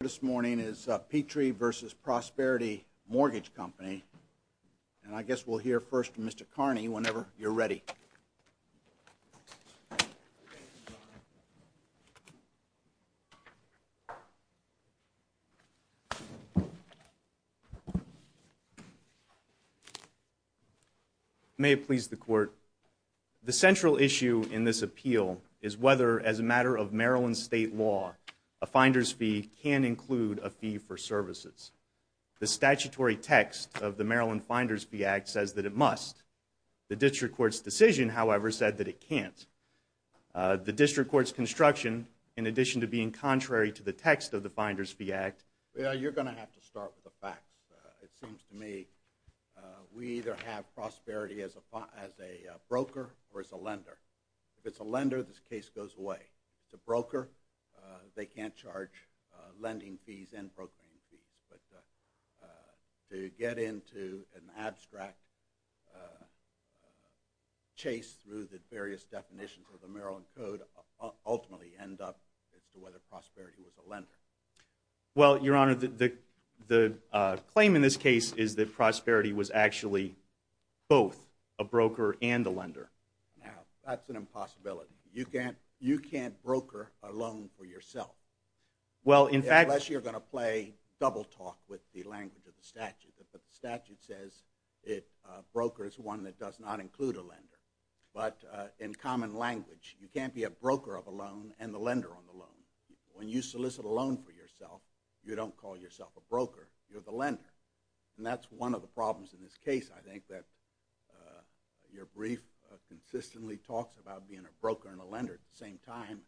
This morning is Petry v. Prosperity Mortgage Company. And I guess we'll hear first from Mr. Carney whenever you're ready. May it please the Court. The central issue in this appeal is whether, as a matter of Maryland state law, a finder's fee can include a fee for services. The statutory text of the Maryland Finder's Fee Act says that it must. The district court's decision, however, said that it can't. The district court's construction, in addition to being contrary to the text of the Finder's Fee Act... Well, you're going to have to start with the facts. It seems to me we either have prosperity as a broker or as a lender. If it's a lender, this case goes away. If it's a broker, they can't charge lending fees and brokering fees. But to get into an abstract chase through the various definitions of the Maryland Code ultimately end up as to whether prosperity was a lender. Well, Your Honor, the claim in this case is that prosperity was actually both a broker and a lender. Now, that's an impossibility. You can't broker a loan for yourself. Unless you're going to play double-talk with the language of the statute. The statute says a broker is one that does not include a lender. But in common language, you can't be a broker of a loan and the lender on the loan. When you solicit a loan for yourself, you don't call yourself a broker. You're the lender. And that's one of the problems in this case, I think, that your brief consistently talks about being a broker and a lender at the same time,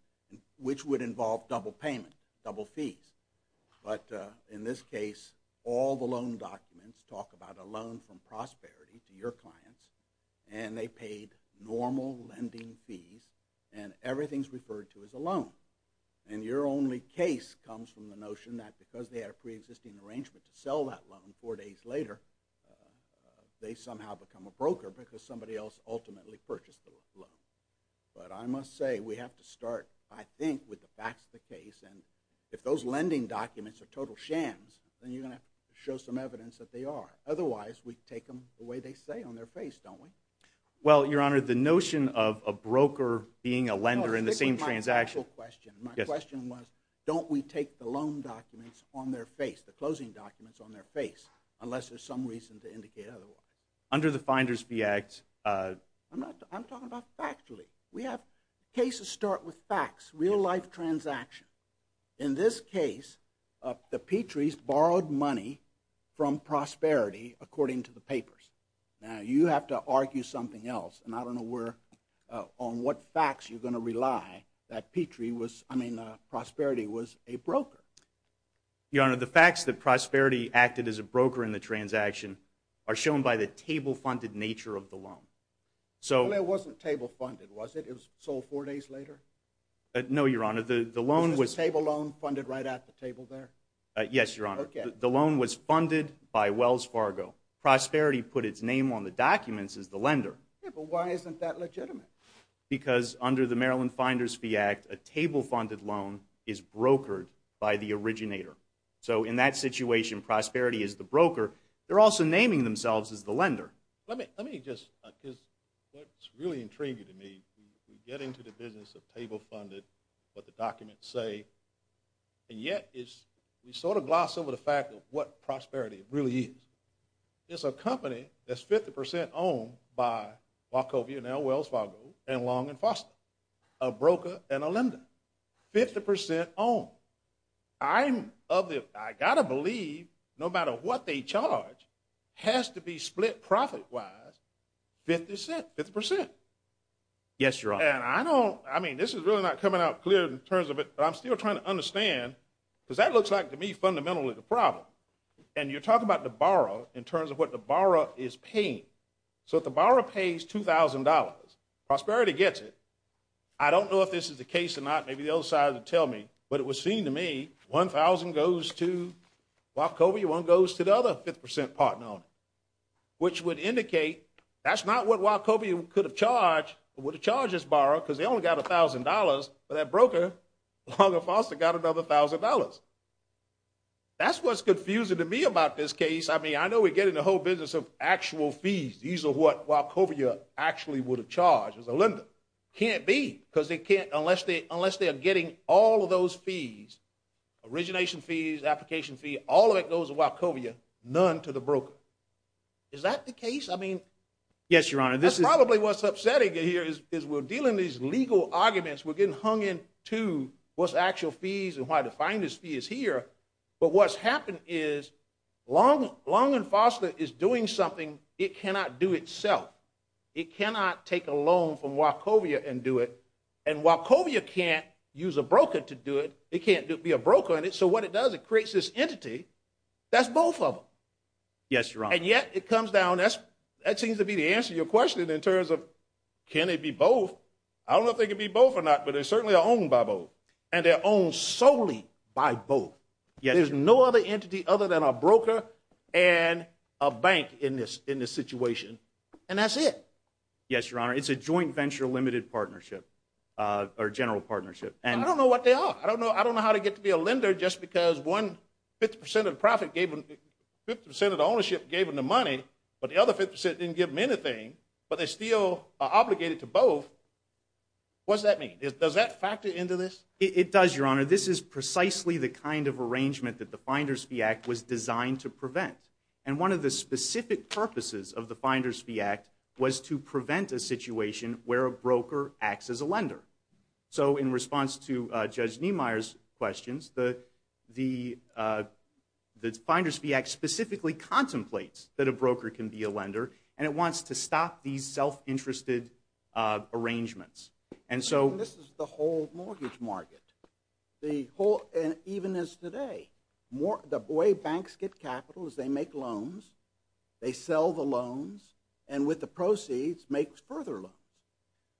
which would involve double payment, double fees. But in this case, all the loan documents talk about a loan from prosperity to your clients, and they paid normal lending fees, and everything's referred to as a loan. And your only case comes from the notion that because they had a preexisting arrangement to sell that loan four days later, they somehow become a broker because somebody else ultimately purchased the loan. But I must say, we have to start, I think, with the facts of the case. And if those lending documents are total shams, then you're going to have to show some evidence that they are. Otherwise, we take them the way they say on their face, don't we? Well, Your Honor, the notion of a broker being a lender in the same transaction— No, stick with my actual question. My question was, don't we take the loan documents on their face, the closing documents on their face, unless there's some reason to indicate otherwise? Under the FINDERS-B Act— I'm talking about factually. We have cases start with facts, real-life transactions. In this case, the Petries borrowed money from Prosperity, according to the papers. Now, you have to argue something else, and I don't know on what facts you're going to rely that Prosperity was a broker. Your Honor, the facts that Prosperity acted as a broker in the transaction are shown by the table-funded nature of the loan. Well, it wasn't table-funded, was it? It was sold four days later? No, Your Honor. Was the table loan funded right at the table there? Yes, Your Honor. The loan was funded by Wells Fargo. Prosperity put its name on the documents as the lender. Yeah, but why isn't that legitimate? Because under the Maryland FINDERS-B Act, a table-funded loan is brokered by the originator. So in that situation, Prosperity is the broker. They're also naming themselves as the lender. Let me just—what's really intriguing to me, we get into the business of table-funded, what the documents say, and yet we sort of gloss over the fact of what Prosperity really is. It's a company that's 50 percent owned by Wachovia and Wells Fargo and Long and Foster, a broker and a lender, 50 percent owned. I'm of the—I've got to believe no matter what they charge has to be split profit-wise 50 percent. Yes, Your Honor. And I don't—I mean, this is really not coming out clear in terms of it, but I'm still trying to understand because that looks like to me fundamentally the problem. And you're talking about the borrower in terms of what the borrower is paying. So if the borrower pays $2,000, Prosperity gets it. I don't know if this is the case or not. Maybe the other side will tell me. But it would seem to me 1,000 goes to Wachovia, 1 goes to the other 50 percent partner, which would indicate that's not what Wachovia could have charged or would have charged this borrower because they only got $1,000, but that broker, Long and Foster, got another $1,000. That's what's confusing to me about this case. I mean, I know we're getting the whole business of actual fees. These are what Wachovia actually would have charged as a lender. Can't be because they can't—unless they are getting all of those fees, origination fees, application fees, all of it goes to Wachovia, none to the broker. Is that the case? I mean— Yes, Your Honor. That's probably what's upsetting here is we're dealing these legal arguments. We're getting hung into what's actual fees and why the finest fee is here. But what's happened is Long and Foster is doing something it cannot do itself. It cannot take a loan from Wachovia and do it. And Wachovia can't use a broker to do it. It can't be a broker in it. So what it does, it creates this entity that's both of them. Yes, Your Honor. And yet it comes down—that seems to be the answer to your question in terms of can it be both. I don't know if they can be both or not, but they certainly are owned by both. And they're owned solely by both. There's no other entity other than a broker and a bank in this situation. And that's it. Yes, Your Honor. It's a joint venture limited partnership or general partnership. And I don't know what they are. I don't know how to get to be a lender just because one 50 percent of the profit gave them— 50 percent of the ownership gave them the money, but the other 50 percent didn't give them anything. But they still are obligated to both. What does that mean? Does that factor into this? It does, Your Honor. This is precisely the kind of arrangement that the Finder's Fee Act was designed to prevent. And one of the specific purposes of the Finder's Fee Act was to prevent a situation where a broker acts as a lender. So in response to Judge Niemeyer's questions, the Finder's Fee Act specifically contemplates that a broker can be a lender, and it wants to stop these self-interested arrangements. And this is the whole mortgage market, even as today. The way banks get capital is they make loans, they sell the loans, and with the proceeds make further loans.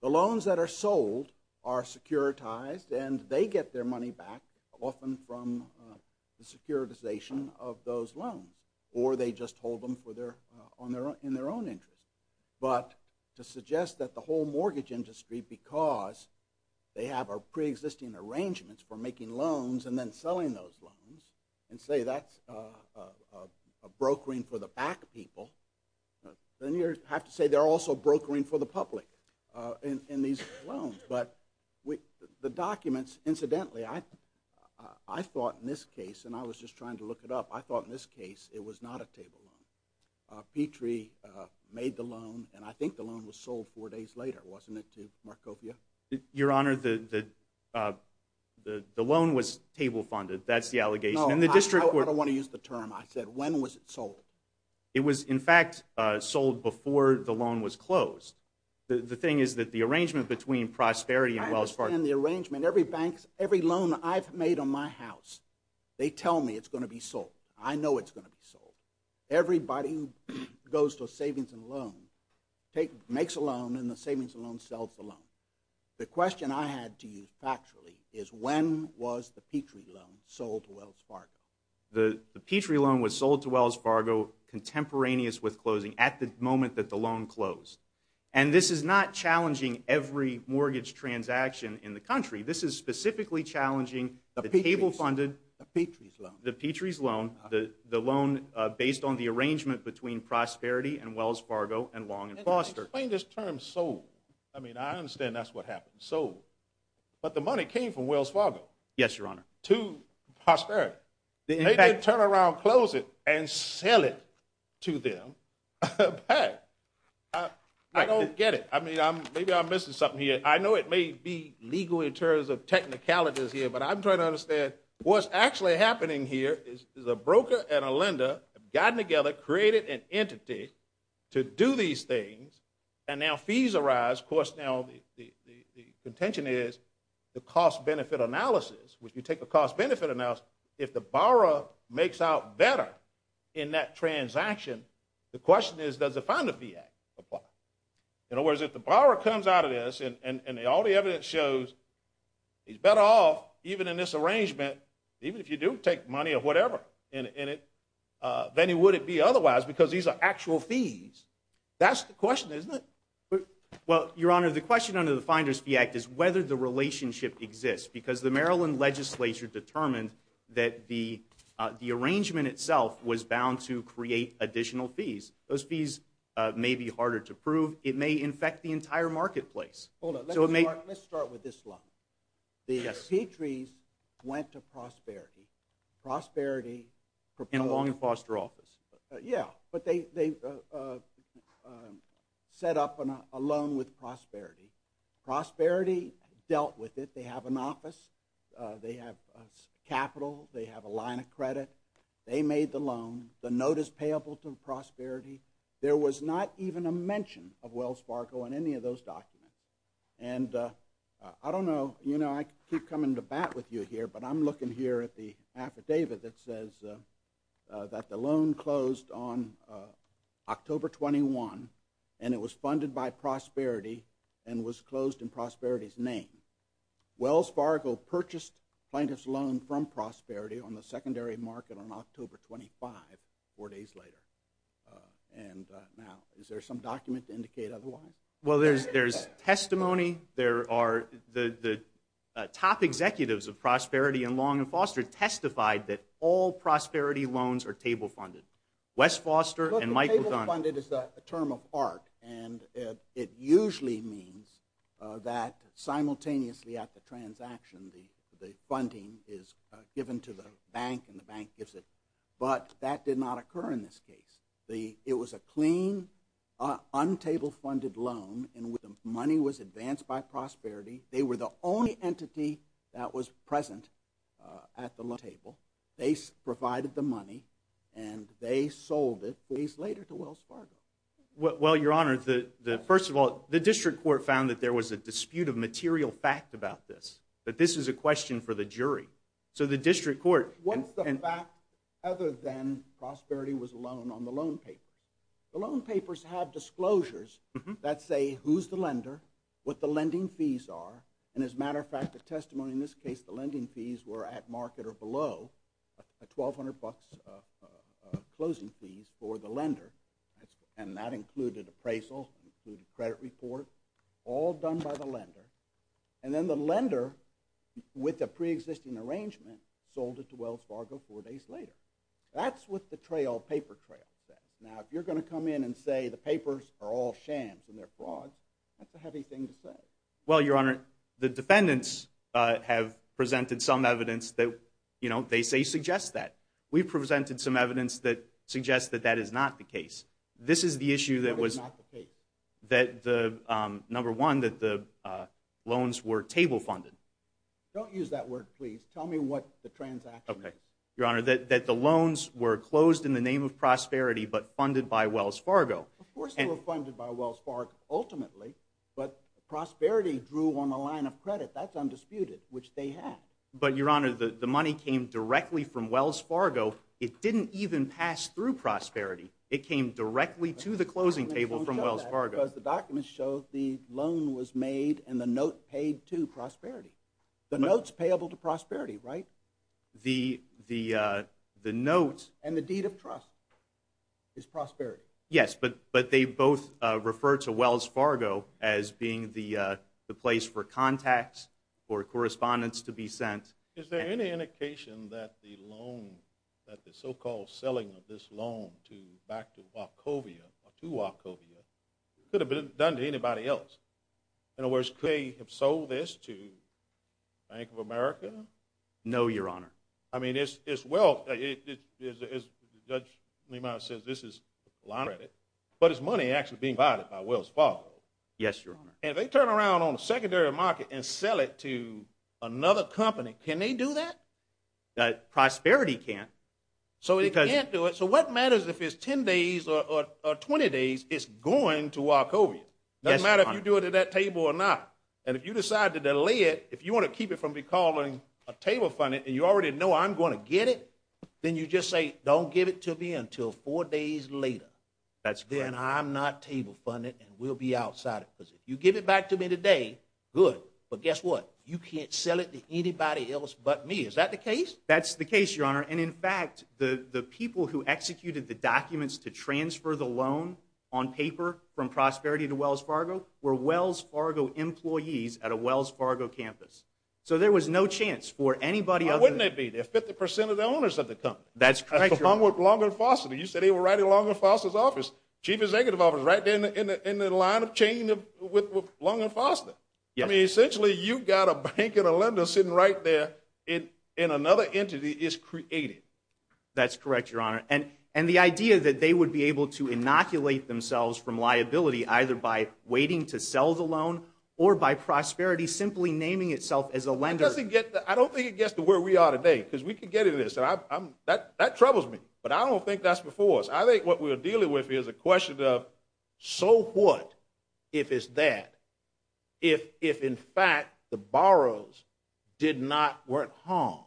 The loans that are sold are securitized, and they get their money back often from the securitization of those loans. Or they just hold them in their own interest. But to suggest that the whole mortgage industry, because they have pre-existing arrangements for making loans and then selling those loans, and say that's a brokering for the back people, then you have to say they're also brokering for the public in these loans. But the documents, incidentally, I thought in this case, and I was just trying to look it up, I thought in this case it was not a table loan. Petrie made the loan, and I think the loan was sold four days later, wasn't it, too, Markopia? Your Honor, the loan was table funded. That's the allegation. No, I don't want to use the term. I said when was it sold? It was, in fact, sold before the loan was closed. The thing is that the arrangement between Prosperity and Wells Fargo. I understand the arrangement. Every loan I've made on my house, they tell me it's going to be sold. I know it's going to be sold. Everybody who goes to a savings and loan makes a loan, and the savings and loan sells the loan. The question I had to use factually is when was the Petrie loan sold to Wells Fargo? The Petrie loan was sold to Wells Fargo contemporaneous with closing at the moment that the loan closed. And this is not challenging every mortgage transaction in the country. This is specifically challenging the table funded. The Petrie's loan. The Petrie's loan, the loan based on the arrangement between Prosperity and Wells Fargo and Long & Foster. Explain this term sold. I mean, I understand that's what happened, sold. But the money came from Wells Fargo. Yes, Your Honor. To Prosperity. They didn't turn around, close it, and sell it to them back. I don't get it. I mean, maybe I'm missing something here. I know it may be legal in terms of technicalities here, but I'm trying to understand what's actually happening here. Is a broker and a lender have gotten together, created an entity to do these things, and now fees arise. Of course, now the contention is the cost-benefit analysis, which you take the cost-benefit analysis, if the borrower makes out better in that transaction, the question is does the fund-to-fee act apply? In other words, if the borrower comes out of this and all the evidence shows he's better off, even in this arrangement, even if you do take money or whatever in it, then would it be otherwise because these are actual fees? That's the question, isn't it? Well, Your Honor, the question under the Finder's Fee Act is whether the relationship exists because the Maryland legislature determined that the arrangement itself was bound to create additional fees. Those fees may be harder to prove. It may infect the entire marketplace. Hold on. Let's start with this line. The Petries went to Prosperity. Prosperity proposed. And longed for their office. Yeah, but they set up a loan with Prosperity. Prosperity dealt with it. They have an office. They have capital. They have a line of credit. They made the loan. The note is payable to Prosperity. There was not even a mention of Wells Fargo in any of those documents. And I don't know. You know, I keep coming to bat with you here, but I'm looking here at the affidavit that says that the loan closed on October 21, and it was funded by Prosperity and was closed in Prosperity's name. Wells Fargo purchased plaintiff's loan from Prosperity on the secondary market on October 25, four days later. And now, is there some document to indicate otherwise? Well, there's testimony. There are the top executives of Prosperity and Long & Foster testified that all Prosperity loans are table funded. Wes Foster and Mike McDonough. Look, the table funded is a term of art, and it usually means that simultaneously at the transaction the funding is given to the bank, and the bank gives it. But that did not occur in this case. It was a clean, untable funded loan, and the money was advanced by Prosperity. They were the only entity that was present at the table. They provided the money, and they sold it four days later to Wells Fargo. Well, Your Honor, first of all, the district court found that there was a dispute of material fact about this, that this is a question for the jury. What's the fact other than Prosperity was a loan on the loan paper? The loan papers have disclosures that say who's the lender, what the lending fees are, and as a matter of fact, the testimony in this case, the lending fees were at market or below $1,200 closing fees for the lender, and that included appraisal, credit report, all done by the lender. And then the lender, with a preexisting arrangement, sold it to Wells Fargo four days later. That's what the paper trail says. Now, if you're going to come in and say the papers are all shams and they're fraud, that's a heavy thing to say. Well, Your Honor, the defendants have presented some evidence that they say suggests that. We've presented some evidence that suggests that that is not the case. This is the issue that was— That is not the case. Number one, that the loans were table funded. Don't use that word, please. Tell me what the transaction is. Your Honor, that the loans were closed in the name of Prosperity but funded by Wells Fargo. Of course they were funded by Wells Fargo, ultimately, but Prosperity drew on the line of credit. That's undisputed, which they had. But, Your Honor, the money came directly from Wells Fargo. It didn't even pass through Prosperity. It came directly to the closing table from Wells Fargo. Because the documents show the loan was made and the note paid to Prosperity. The note's payable to Prosperity, right? The note— And the deed of trust is Prosperity. Yes, but they both refer to Wells Fargo as being the place for contacts, for correspondents to be sent. Is there any indication that the loan, that the so-called selling of this loan back to Wachovia, or to Wachovia, could have been done to anybody else? In other words, could they have sold this to Bank of America? No, Your Honor. I mean, it's wealth. As Judge Lemire says, this is line of credit. But is money actually being divided by Wells Fargo? Yes, Your Honor. And if they turn around on the secondary market and sell it to another company, can they do that? Prosperity can't. So they can't do it. So what matters if it's 10 days or 20 days, it's going to Wachovia? Yes, Your Honor. It doesn't matter if you do it at that table or not. And if you decide to delay it, if you want to keep it from becoming table-funded, and you already know I'm going to get it, then you just say, don't give it to me until four days later. That's correct. And I'm not table-funded and will be outside it. Because if you give it back to me today, good. But guess what? You can't sell it to anybody else but me. Is that the case? That's the case, Your Honor. And, in fact, the people who executed the documents to transfer the loan on paper from Prosperity to Wells Fargo were Wells Fargo employees at a Wells Fargo campus. So there was no chance for anybody other than them. Why wouldn't there be? They're 50 percent of the owners of the company. That's correct, Your Honor. Along with Long and Foster. You said they were right along with Foster's office. Chief Executive Office is right there in the line of chain with Long and Foster. I mean, essentially, you've got a bank and a lender sitting right there, and another entity is created. That's correct, Your Honor. And the idea that they would be able to inoculate themselves from liability either by waiting to sell the loan or by Prosperity simply naming itself as a lender. I don't think it gets to where we are today because we could get into this. That troubles me, but I don't think that's before us. I think what we're dealing with here is a question of so what if it's that, if, in fact, the borrowers did not work home,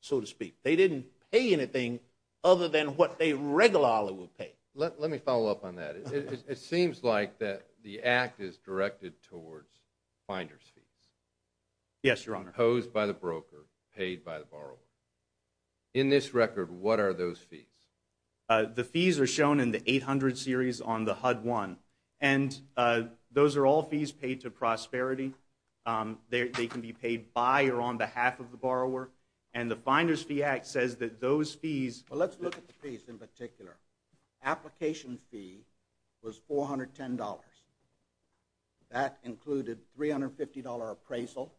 so to speak. They didn't pay anything other than what they regularly would pay. Let me follow up on that. It seems like the act is directed towards finder's fees. Yes, Your Honor. Proposed by the broker, paid by the borrower. In this record, what are those fees? The fees are shown in the 800 series on the HUD-1, and those are all fees paid to Prosperity. They can be paid by or on behalf of the borrower, and the Finder's Fee Act says that those fees… Well, let's look at the fees in particular. Application fee was $410. That included $350 appraisal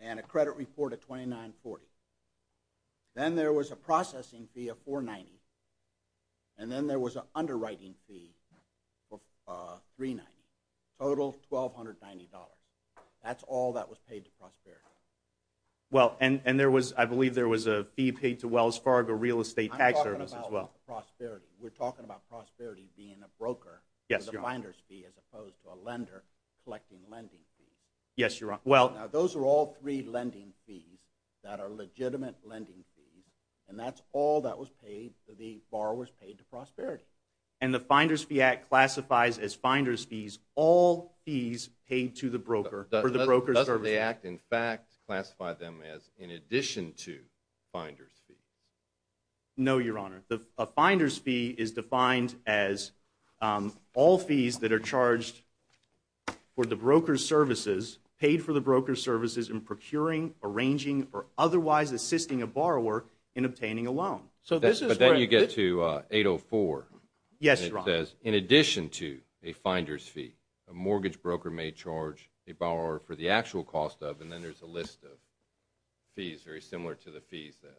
and a credit report of $2,940. Then there was a processing fee of $490, and then there was an underwriting fee of $390. Total $1,290. That's all that was paid to Prosperity. Well, and there was, I believe there was a fee paid to Wells Fargo Real Estate Tax Service as well. I'm talking about Prosperity. Yes, Your Honor. Yes, Your Honor. Now, those are all three lending fees that are legitimate lending fees, and that's all that was paid to the borrowers paid to Prosperity. And the Finder's Fee Act classifies as finder's fees all fees paid to the broker for the broker's services. Doesn't the Act, in fact, classify them as in addition to finder's fees? No, Your Honor. A finder's fee is defined as all fees that are charged for the broker's services, paid for the broker's services in procuring, arranging, or otherwise assisting a borrower in obtaining a loan. But then you get to 804. Yes, Your Honor. It says in addition to a finder's fee, a mortgage broker may charge a borrower for the actual cost of, and then there's a list of fees very similar to the fees that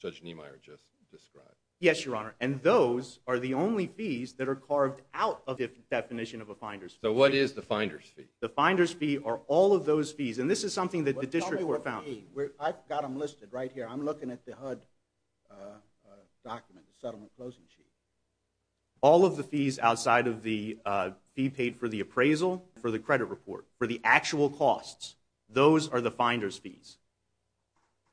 Judge Niemeyer just described. Yes, Your Honor. And those are the only fees that are carved out of the definition of a finder's fee. So what is the finder's fee? The finder's fee are all of those fees. And this is something that the district court found. I've got them listed right here. I'm looking at the HUD document, the settlement closing sheet. All of the fees outside of the fee paid for the appraisal, for the credit report, for the actual costs, those are the finder's fees.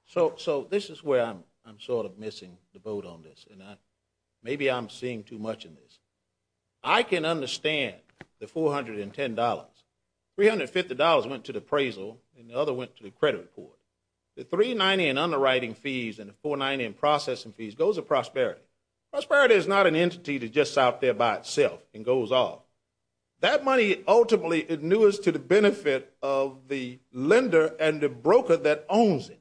So this is where I'm sort of missing the boat on this, and maybe I'm seeing too much in this. I can understand the $410. $350 went to the appraisal, and the other went to the credit report. The 390 in underwriting fees and the 490 in processing fees goes to prosperity. Prosperity is not an entity that's just out there by itself and goes off. That money ultimately is newest to the benefit of the lender and the broker that owns it.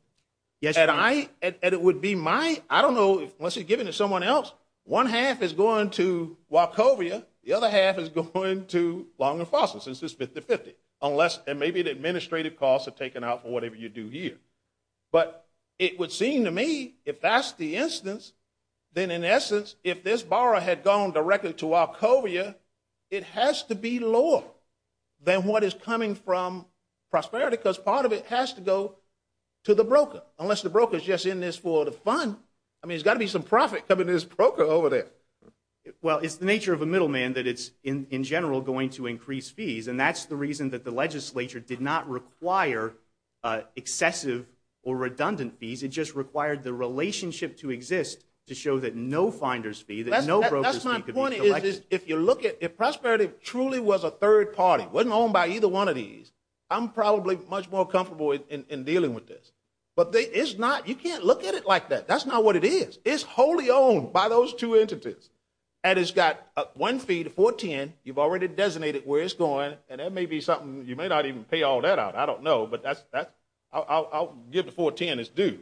Yes, Your Honor. And it would be my, I don't know, unless you're giving it to someone else, one half is going to Wachovia, the other half is going to Long and Foster since it's 50-50, and maybe the administrative costs are taken out for whatever you do here. But it would seem to me if that's the instance, then in essence, if this borrower had gone directly to Wachovia, it has to be lower than what is coming from prosperity because part of it has to go to the broker, unless the broker is just in this for the fund. I mean, there's got to be some profit coming to this broker over there. Well, it's the nature of a middleman that it's, in general, going to increase fees, and that's the reason that the legislature did not require excessive or redundant fees. It just required the relationship to exist to show that no finder's fee, that no broker's fee could be collected. That's my point. If you look at, if prosperity truly was a third party, wasn't owned by either one of these, I'm probably much more comfortable in dealing with this. But it's not, you can't look at it like that. That's not what it is. It's wholly owned by those two entities. And it's got one fee, the 410, you've already designated where it's going, and that may be something, you may not even pay all that out. I don't know, but I'll give the 410 its due.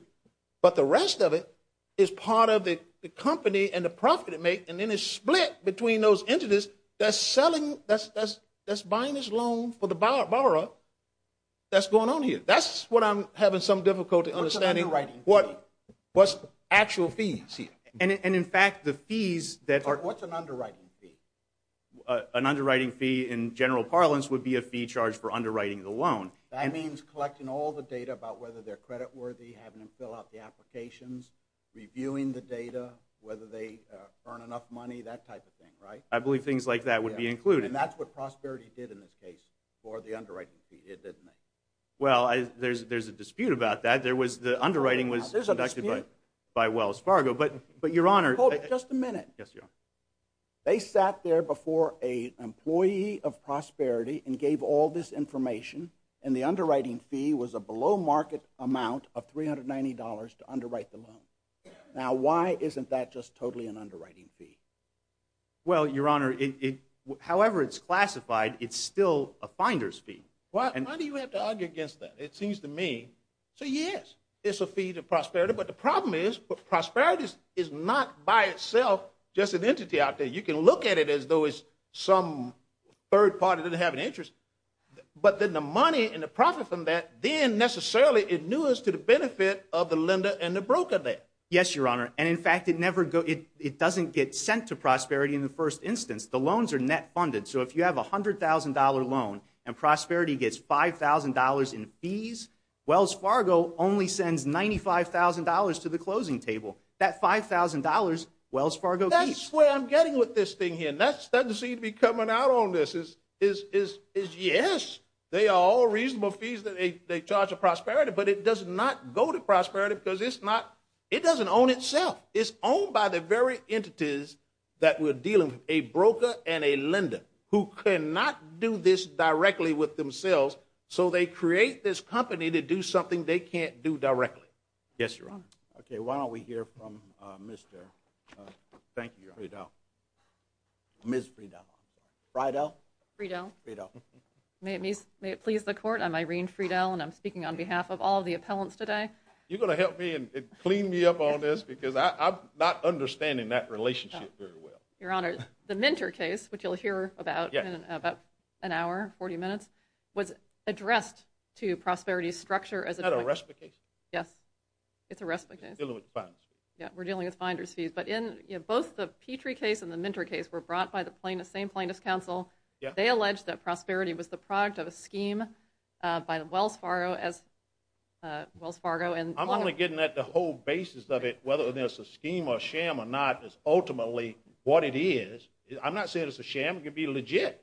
But the rest of it is part of the company and the profit it makes, and then it's split between those entities that's buying this loan for the borrower that's going on here. That's what I'm having some difficulty understanding. What's the actual fees here? What's an underwriting fee? An underwriting fee, in general parlance, would be a fee charged for underwriting the loan. That means collecting all the data about whether they're creditworthy, having them fill out the applications, reviewing the data, whether they earn enough money, that type of thing, right? I believe things like that would be included. And that's what prosperity did in this case for the underwriting fee, didn't it? Well, there's a dispute about that. The underwriting was conducted by Wells Fargo. Hold it just a minute. They sat there before an employee of Prosperity and gave all this information, and the underwriting fee was a below-market amount of $390 to underwrite the loan. Now, why isn't that just totally an underwriting fee? Well, Your Honor, however it's classified, it's still a finder's fee. Why do you have to argue against that? It seems to me, so yes, it's a fee to Prosperity, but the problem is Prosperity is not by itself just an entity out there. You can look at it as though it's some third party that have an interest, but then the money and the profit from that, then necessarily it news to the benefit of the lender and the broker there. Yes, Your Honor, and in fact it doesn't get sent to Prosperity in the first instance. The loans are net funded, so if you have a $100,000 loan and Prosperity gets $5,000 in fees, Wells Fargo only sends $95,000 to the closing table. That $5,000 Wells Fargo keeps. That's where I'm getting with this thing here. That doesn't seem to be coming out on this is yes, they are all reasonable fees that they charge to Prosperity, but it does not go to Prosperity because it doesn't own itself. It's owned by the very entities that we're dealing with, a broker and a lender who cannot do this directly with themselves, so they create this company to do something they can't do directly. Yes, Your Honor. Okay, why don't we hear from Mr. Friedel. Ms. Friedel. Friedel. Friedel. Friedel. May it please the court, I'm Irene Friedel, and I'm speaking on behalf of all the appellants today. You're going to help me and clean me up on this because I'm not understanding that relationship very well. Your Honor, the Minter case, which you'll hear about in about an hour, 40 minutes, was addressed to Prosperity's structure. Is that a reciprocation? Yes, it's a reciprocation. We're dealing with the finder's fees. Yeah, we're dealing with finder's fees. But both the Petrie case and the Minter case were brought by the same plaintiff's counsel. They alleged that Prosperity was the product of a scheme by Wells Fargo. I'm only getting at the whole basis of it, whether there's a scheme or sham or not is ultimately what it is. I'm not saying it's a sham. It could be legit.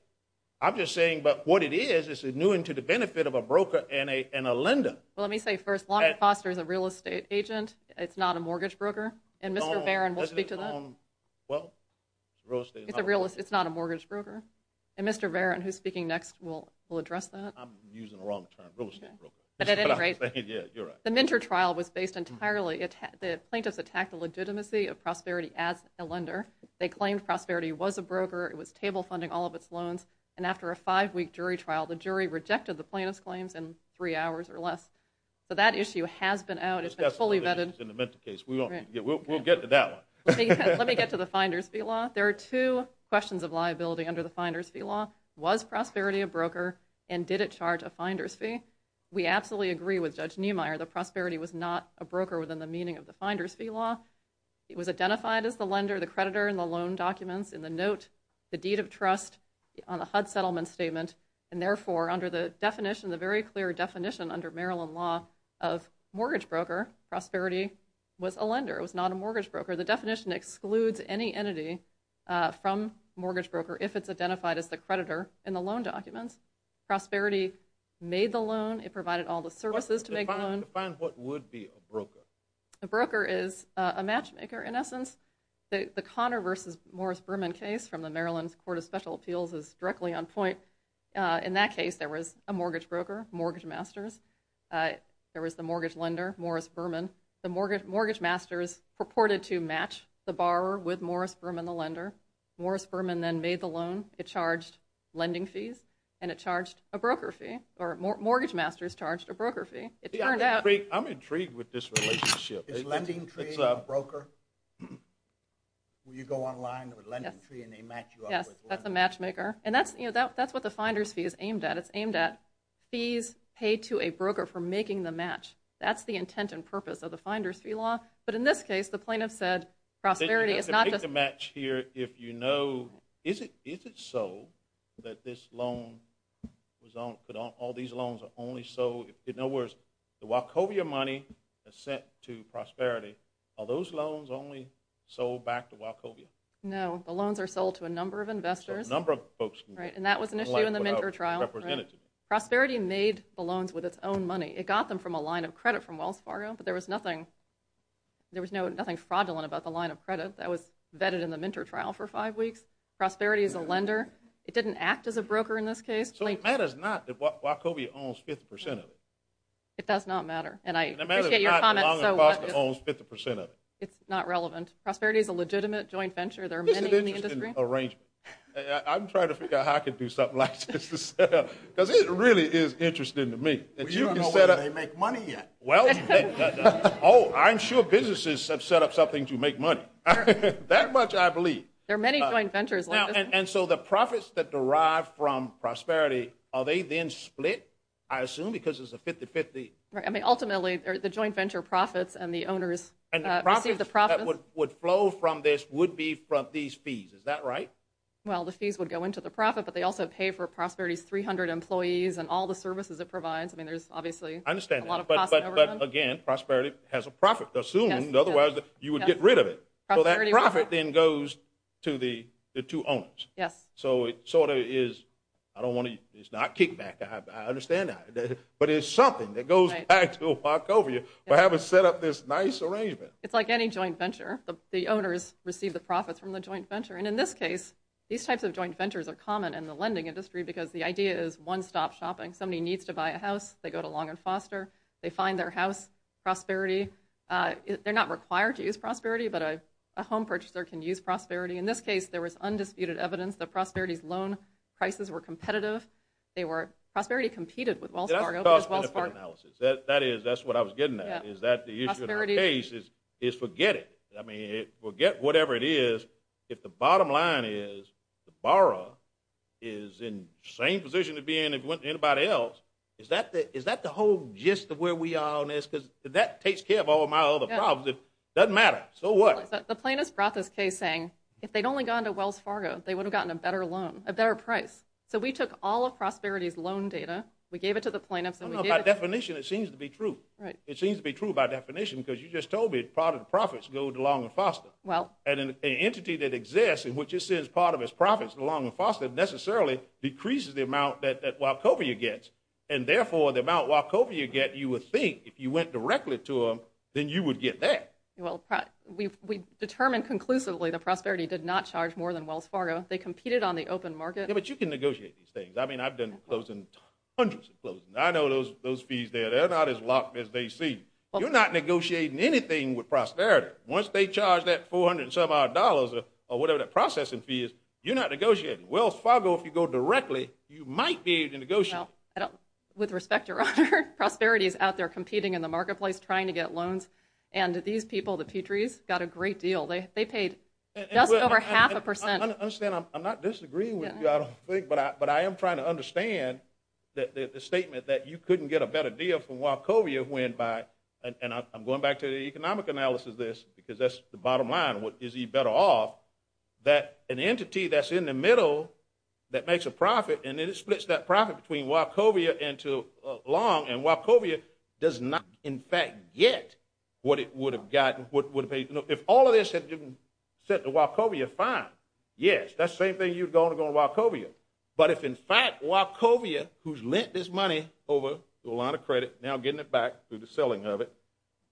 I'm just saying what it is, it's new and to the benefit of a broker and a lender. Well, let me say first, Longford Foster is a real estate agent. It's not a mortgage broker. And Mr. Barron will speak to that. Well, it's real estate. It's not a mortgage broker. And Mr. Barron, who's speaking next, will address that. I'm using the wrong term, real estate broker. But at any rate, the Minter trial was based entirely, the plaintiffs attacked the legitimacy of Prosperity as a lender. They claimed Prosperity was a broker. It was table funding all of its loans. And after a five-week jury trial, the jury rejected the plaintiff's claims in three hours or less. So that issue has been out. It's been fully vetted. We'll get to that one. Let me get to the Finder's Fee Law. There are two questions of liability under the Finder's Fee Law. Was Prosperity a broker and did it charge a Finder's Fee? We absolutely agree with Judge Niemeyer that Prosperity was not a broker It was identified as the lender, the creditor, in the loan documents in the note, the deed of trust, on the HUD settlement statement. And therefore, under the definition, the very clear definition under Maryland law of mortgage broker, Prosperity was a lender. It was not a mortgage broker. The definition excludes any entity from mortgage broker if it's identified as the creditor in the loan documents. Prosperity made the loan. It provided all the services to make the loan. Define what would be a broker. A broker is a matchmaker, in essence. The Connor v. Morris-Berman case from the Maryland Court of Special Appeals is directly on point. In that case, there was a mortgage broker, Mortgage Masters. There was the mortgage lender, Morris-Berman. The Mortgage Masters purported to match the borrower with Morris-Berman, the lender. Morris-Berman then made the loan. It charged lending fees, and it charged a broker fee, or Mortgage Masters charged a broker fee. I'm intrigued with this relationship. It's a broker. You go online with LendingTree, and they match you up with LendingTree. Yes, that's a matchmaker. And that's what the finder's fee is aimed at. It's aimed at fees paid to a broker for making the match. That's the intent and purpose of the finder's fee law. But in this case, the plaintiff said prosperity is not just You have to make the match here if you know, is it so that all these loans are only sold? The Wachovia money is sent to Prosperity. Are those loans only sold back to Wachovia? No. The loans are sold to a number of investors. A number of folks. And that was an issue in the Minter trial. Prosperity made the loans with its own money. It got them from a line of credit from Wells Fargo, but there was nothing fraudulent about the line of credit. That was vetted in the Minter trial for five weeks. Prosperity is a lender. It didn't act as a broker in this case. So it matters not that Wachovia owns 50% of it. It does not matter. And I appreciate your comment. It's not relevant. Prosperity is a legitimate joint venture. There are many in the industry. I'm trying to figure out how I can do something like this. Because it really is interesting to me. You don't know whether they make money yet. Oh, I'm sure businesses have set up something to make money. That much I believe. There are many joint ventures like this. And so the profits that derive from Prosperity, are they then split, I assume, because it's a 50-50? Ultimately, the joint venture profits and the owners receive the profits. And the profits that would flow from this would be from these fees. Is that right? Well, the fees would go into the profit, but they also pay for Prosperity's 300 employees and all the services it provides. I mean, there's obviously a lot of costs. But, again, Prosperity has a profit, assumed. Otherwise, you would get rid of it. So that profit then goes to the two owners. Yes. So it sort of is, I don't want to, it's not kickback. I understand that. But it's something that goes back to a walk over you for having set up this nice arrangement. It's like any joint venture. The owners receive the profits from the joint venture. And in this case, these types of joint ventures are common in the lending industry because the idea is one-stop shopping. Somebody needs to buy a house, they go to Long and Foster. They find their house, Prosperity. They're not required to use Prosperity, but a home purchaser can use Prosperity. In this case, there was undisputed evidence that Prosperity's loan prices were competitive. Prosperity competed with Wells Fargo. That's a cost-benefit analysis. That's what I was getting at. Is that the issue of the case is forget it. I mean, forget whatever it is. If the bottom line is the borrower is in the same position as being anybody else, is that the whole gist of where we are on this? Because that takes care of all of my other problems. It doesn't matter. So what? The plaintiffs brought this case saying if they'd only gone to Wells Fargo, they would have gotten a better loan, a better price. So we took all of Prosperity's loan data. We gave it to the plaintiffs. By definition, it seems to be true. It seems to be true by definition because you just told me part of the profits go to Long and Foster. An entity that exists in which it sends part of its profits to Long and Foster necessarily decreases the amount that Wachovia gets. And therefore, the amount Wachovia gets, that you would think if you went directly to them, then you would get that. We determined conclusively that Prosperity did not charge more than Wells Fargo. They competed on the open market. Yeah, but you can negotiate these things. I mean, I've done hundreds of closings. I know those fees there. They're not as locked as they seem. You're not negotiating anything with Prosperity. Once they charge that $400-some-odd or whatever that processing fee is, you're not negotiating. Wells Fargo, if you go directly, you might be able to negotiate. With respect, Your Honor, Prosperity is out there competing in the marketplace trying to get loans, and these people, the Petries, got a great deal. They paid just over half a percent. I understand. I'm not disagreeing with you, I don't think, but I am trying to understand the statement that you couldn't get a better deal from Wachovia when by, and I'm going back to the economic analysis of this because that's the bottom line. Is he better off that an entity that's in the middle that makes a profit and then it splits that profit between Wachovia and Long, and Wachovia does not, in fact, get what it would have gotten, what it would have paid. If all of this had been sent to Wachovia, fine, yes. That's the same thing you'd go to go to Wachovia. But if, in fact, Wachovia, who's lent this money over to a line of credit, now getting it back through the selling of it,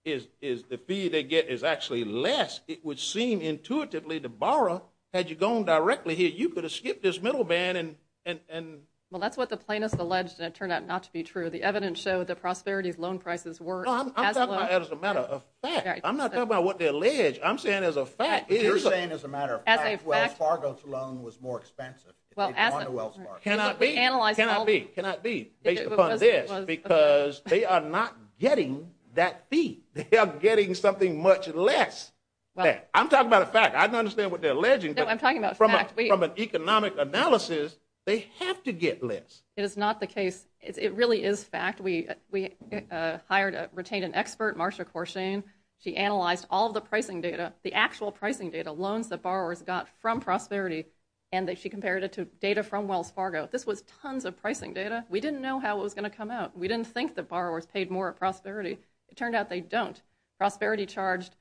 is the fee they get is actually less, it would seem intuitively to borrow. Had you gone directly here, you could have skipped this middle band and, and, and, well, that's what the plaintiff alleged. And it turned out not to be true. The evidence showed the prosperity of loan prices were as low as a matter of fact, I'm not talking about what they allege. I'm saying as a fact, you're saying as a matter of fact, Fargo's loan was more expensive. Well, as well, can I be analyzed? Can I be based upon this? Because they are not getting that fee. They are getting something much less. I'm talking about a fact. I don't understand what they're alleging. No, I'm talking about fact. From an economic analysis, they have to get less. It is not the case. It really is fact. We hired, retained an expert, Marcia Corshane. She analyzed all the pricing data, the actual pricing data, loans that borrowers got from prosperity, and she compared it to data from Wells Fargo. This was tons of pricing data. We didn't know how it was going to come out. We didn't think that borrowers paid more at prosperity. It turned out they don't. Prosperity charged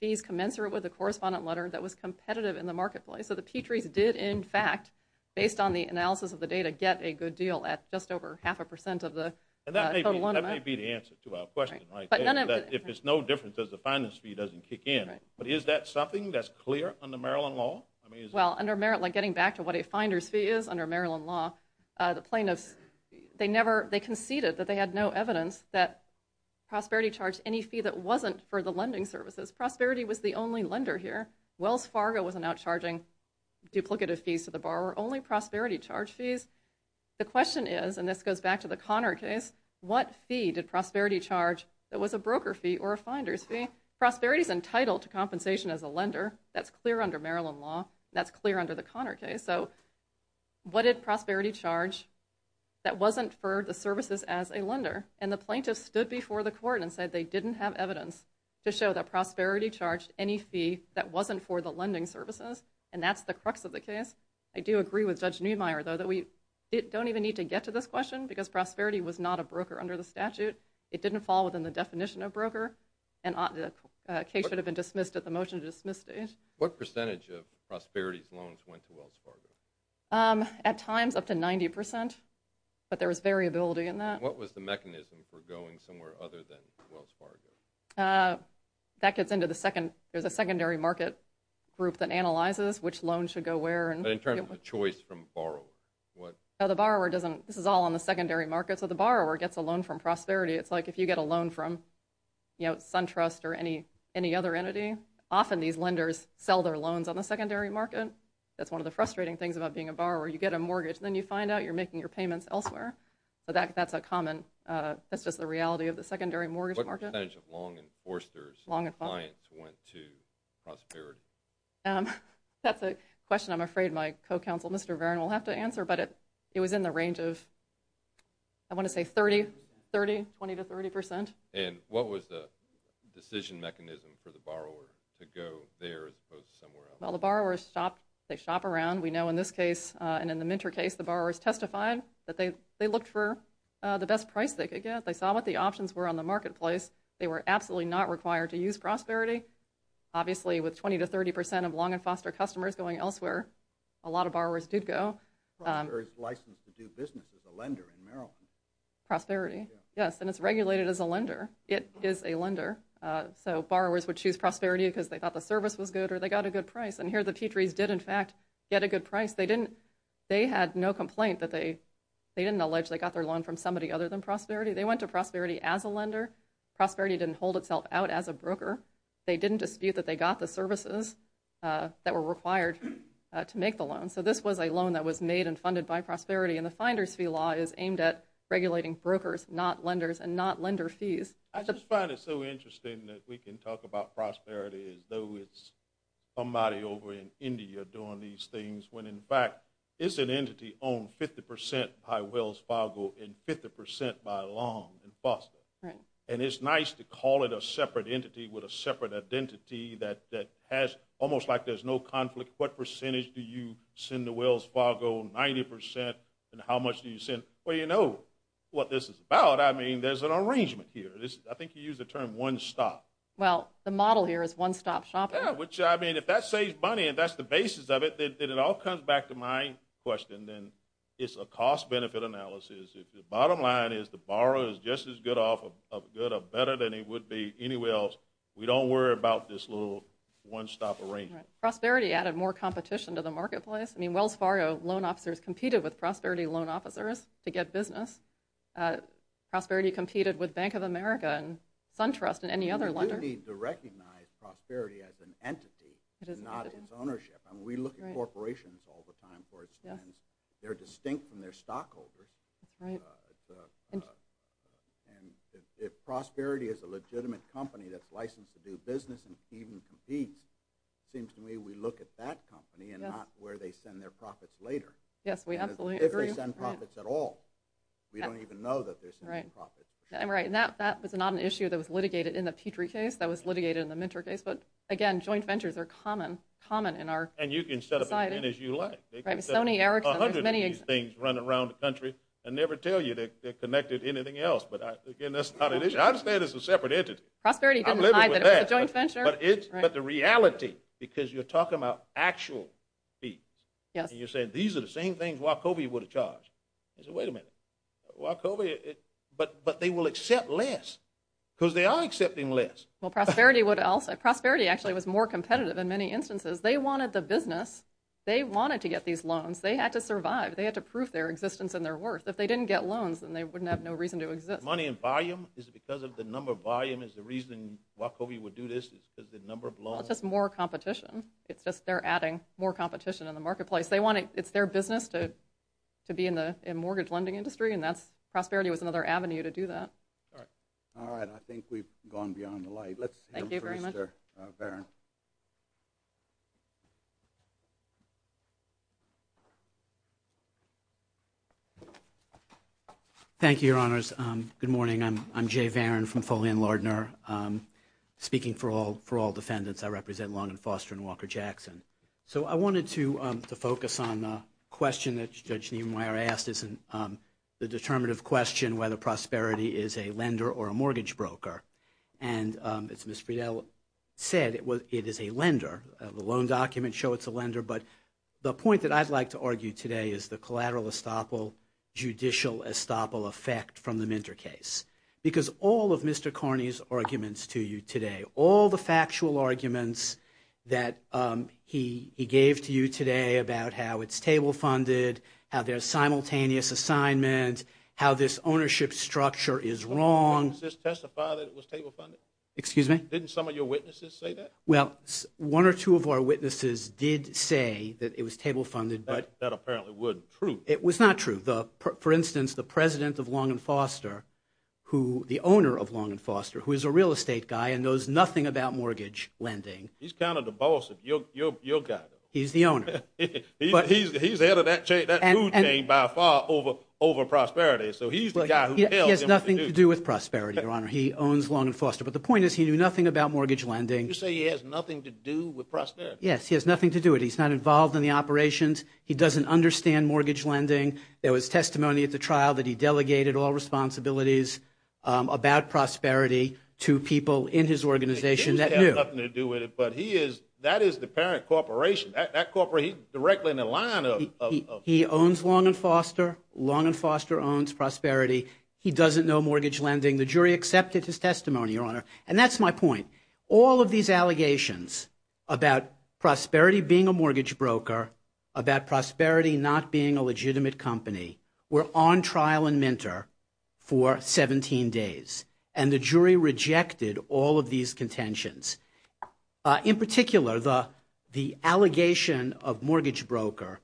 fees commensurate with the correspondent letter that was competitive in the marketplace. So the Petrie's did, in fact, based on the analysis of the data, get a good deal at just over half a percent of the total amount. That may be the answer to our question, right? If it's no difference, the finder's fee doesn't kick in. But is that something that's clear under Maryland law? Well, under Maryland, getting back to what a finder's fee is under Maryland law, the plaintiffs, they conceded that they had no evidence that prosperity charged any fee that wasn't for the lending services. Prosperity was the only lender here. Wells Fargo was not charging duplicative fees to the borrower, only prosperity charge fees. The question is, and this goes back to the Connor case, what fee did prosperity charge that was a broker fee or a finder's fee? Prosperity is entitled to compensation as a lender. That's clear under Maryland law. That's clear under the Connor case. So what did prosperity charge that wasn't for the services as a lender? And the plaintiffs stood before the court and said they didn't have And that's the crux of the case. I do agree with Judge Neumeier, though, that we don't even need to get to this question because prosperity was not a broker under the statute. It didn't fall within the definition of broker, and the case should have been dismissed at the motion to dismiss stage. What percentage of prosperity's loans went to Wells Fargo? At times, up to 90%, but there was variability in that. What was the mechanism for going somewhere other than Wells Fargo? That gets into the second. There's a secondary market group that analyzes which loans should go where. But in terms of the choice from borrowers, what? The borrower doesn't. This is all on the secondary market, so the borrower gets a loan from prosperity. It's like if you get a loan from SunTrust or any other entity, often these lenders sell their loans on the secondary market. That's one of the frustrating things about being a borrower. You get a mortgage, and then you find out you're making your payments elsewhere. That's a common. That's just the reality of the secondary mortgage market. What percentage of Long and Forster's clients went to prosperity? That's a question I'm afraid my co-counsel, Mr. Varen, will have to answer, but it was in the range of, I want to say, 30, 20 to 30%. What was the decision mechanism for the borrower to go there as opposed to somewhere else? The borrowers shop. They shop around. We know in this case and in the Minter case, the borrowers testified that they looked for the best price they could get. They saw what the options were on the marketplace. They were absolutely not required to use prosperity. Obviously, with 20 to 30% of Long and Forster customers going elsewhere, a lot of borrowers did go. Prosperity is licensed to do business as a lender in Maryland. Prosperity? Yes, and it's regulated as a lender. It is a lender. So borrowers would choose prosperity because they thought the service was good or they got a good price, and here the Petries did, in fact, get a good price. They had no complaint that they didn't allege they got their loan from somebody other than prosperity. They went to prosperity as a lender. Prosperity didn't hold itself out as a broker. They didn't dispute that they got the services that were required to make the loan. So this was a loan that was made and funded by prosperity, and the Finder's Fee Law is aimed at regulating brokers, not lenders, and not lender fees. I just find it so interesting that we can talk about prosperity as though it's somebody over in India doing these things when, in fact, it's an entity owned 50% by Wells Fargo and 50% by Long and Foster. Right. And it's nice to call it a separate entity with a separate identity that has almost like there's no conflict. What percentage do you send to Wells Fargo, 90%, and how much do you send? Well, you know what this is about. I mean, there's an arrangement here. I think you used the term one stop. Well, the model here is one-stop shopping. Yeah, which, I mean, if that saves money and that's the basis of it, then it all comes back to my question. Then it's a cost-benefit analysis. The bottom line is the borrower is just as good or better than he would be anywhere else. We don't worry about this little one-stop arrangement. Right. Prosperity added more competition to the marketplace. I mean, Wells Fargo loan officers competed with prosperity loan officers to get business. Prosperity competed with Bank of America and SunTrust and any other lender. We do need to recognize prosperity as an entity, not its ownership. I mean, we look at corporations all the time for its trends. They're distinct from their stockholders. If prosperity is a legitimate company that's licensed to do business and even competes, it seems to me we look at that company and not where they send their profits later. Yes, we absolutely agree. If they send profits at all, we don't even know that they're sending profits. Right, and that was not an issue that was litigated in the Petrie case. That was litigated in the Minter case. But, again, joint ventures are common in our society. And you can set up as many as you like. They can set up 100 of these things running around the country and never tell you they're connected to anything else. But, again, that's not an issue. I'd say it's a separate entity. Prosperity didn't hide that it was a joint venture. But the reality, because you're talking about actual fees, and you're saying these are the same things Wachovia would have charged. I said, wait a minute, Wachovia, but they will accept less because they are accepting less. Well, prosperity would also. Prosperity actually was more competitive in many instances. They wanted the business. They wanted to get these loans. They had to survive. They had to prove their existence and their worth. If they didn't get loans, then they wouldn't have no reason to exist. Money in volume? Is it because of the number of volume is the reason Wachovia would do this? Is it the number of loans? It's just more competition. It's just they're adding more competition in the marketplace. It's their business to be in the mortgage lending industry, and prosperity was another avenue to do that. All right. I think we've gone beyond the light. Thank you very much. Let's hear from Mr. Varen. Thank you, Your Honors. Good morning. I'm Jay Varen from Foley & Lardner. Speaking for all defendants, I represent Long & Foster and Walker Jackson. So I wanted to focus on the question that Judge Neumeier asked, the determinative question whether prosperity is a lender or a mortgage broker. And as Ms. Friedel said, it is a lender. The loan documents show it's a lender, but the point that I'd like to argue today is the collateral estoppel, judicial estoppel effect from the Minter case. Because all of Mr. Carney's arguments to you today, all the factual arguments that he gave to you today about how it's table funded, how there's simultaneous assignment, how this ownership structure is wrong. Did some of your witnesses testify that it was table funded? Excuse me? Didn't some of your witnesses say that? Well, one or two of our witnesses did say that it was table funded. That apparently wasn't true. It was not true. For instance, the President of Long & Foster, the owner of Long & Foster, who is a real estate guy and knows nothing about mortgage lending. He's kind of the boss of your guy. He's the owner. He's the head of that food chain by far over Prosperity. So he's the guy who tells him what to do. He has nothing to do with Prosperity, Your Honor. He owns Long & Foster. But the point is he knew nothing about mortgage lending. You say he has nothing to do with Prosperity? Yes, he has nothing to do with it. He's not involved in the operations. He doesn't understand mortgage lending. There was testimony at the trial that he delegated all responsibilities about Prosperity to people in his organization that knew. That has nothing to do with it, but that is the parent corporation. That corporation is directly in the line of- He owns Long & Foster. Long & Foster owns Prosperity. He doesn't know mortgage lending. The jury accepted his testimony, Your Honor. And that's my point. All of these allegations about Prosperity being a mortgage broker, about Prosperity not being a legitimate company, were on trial and mentor for 17 days. And the jury rejected all of these contentions. In particular, the allegation of mortgage broker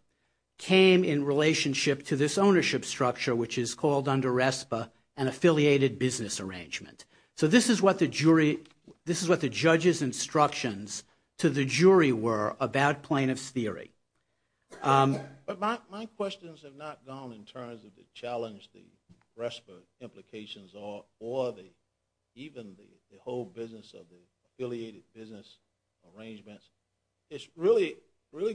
came in relationship to this ownership structure, which is called under RESPA, an affiliated business arrangement. So this is what the jury-this is what the judge's instructions to the jury were about plaintiff's theory. But my questions have not gone in terms of the challenge the RESPA implications or even the whole business of the affiliated business arrangements. It's really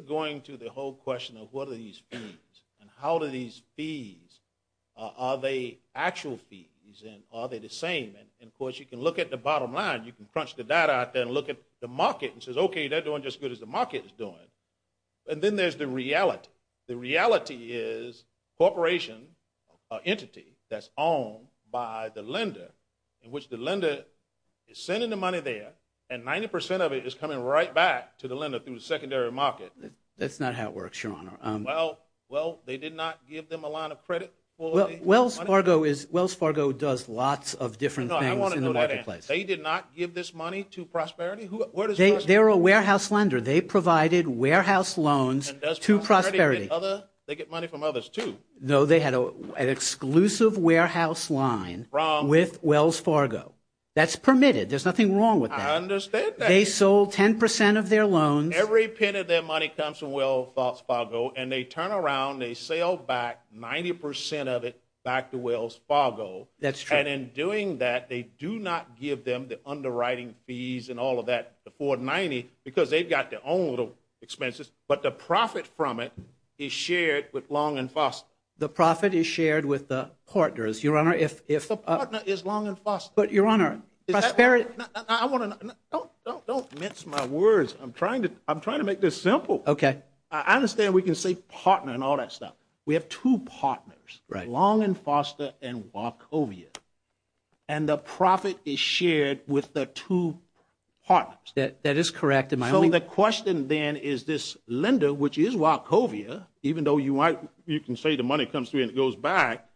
going to the whole question of what are these fees and how do these fees-are they actual fees and are they the same? And, of course, you can look at the bottom line. You can crunch the data out there and look at the market and say, okay, they're doing just as good as the market is doing. And then there's the reality. The reality is corporation entity that's owned by the lender, in which the lender is sending the money there and 90% of it is coming right back to the lender through the secondary market. That's not how it works, Your Honor. Well, they did not give them a line of credit. Wells Fargo does lots of different things in the marketplace. No, I want to know that answer. They did not give this money to Prosperity? They're a warehouse lender. They provided warehouse loans to Prosperity. They get money from others, too. No, they had an exclusive warehouse line with Wells Fargo. That's permitted. There's nothing wrong with that. I understand that. They sold 10% of their loans. Every penny of their money comes from Wells Fargo and they turn around, they sell back 90% of it back to Wells Fargo. That's true. And in doing that, they do not give them the underwriting fees and all of that, the 490, because they've got their own little expenses. But the profit from it is shared with Long and Foster. The profit is shared with the partners. Your Honor, if- The partner is Long and Foster. But, Your Honor, Prosperity- Don't mince my words. I'm trying to make this simple. Okay. I understand we can say partner and all that stuff. We have two partners, Long and Foster and Wachovia, and the profit is shared with the two partners. That is correct. And my only- So the question then is this lender, which is Wachovia, even though you can say the money comes through and it goes back,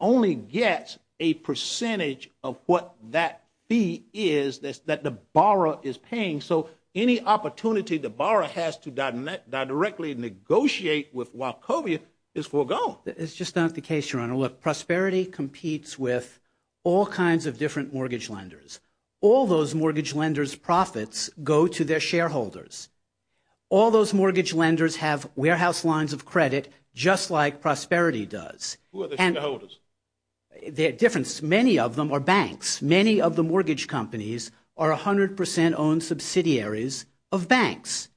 only gets a percentage of what that fee is that the borrower is paying. So any opportunity the borrower has to directly negotiate with Wachovia is foregone. It's just not the case, Your Honor. Look, Prosperity competes with all kinds of different mortgage lenders. All those mortgage lenders' profits go to their shareholders. All those mortgage lenders have warehouse lines of credit just like Prosperity does. Who are the shareholders? They're different. Many of them are banks. Many of the mortgage companies are 100%-owned subsidiaries of banks.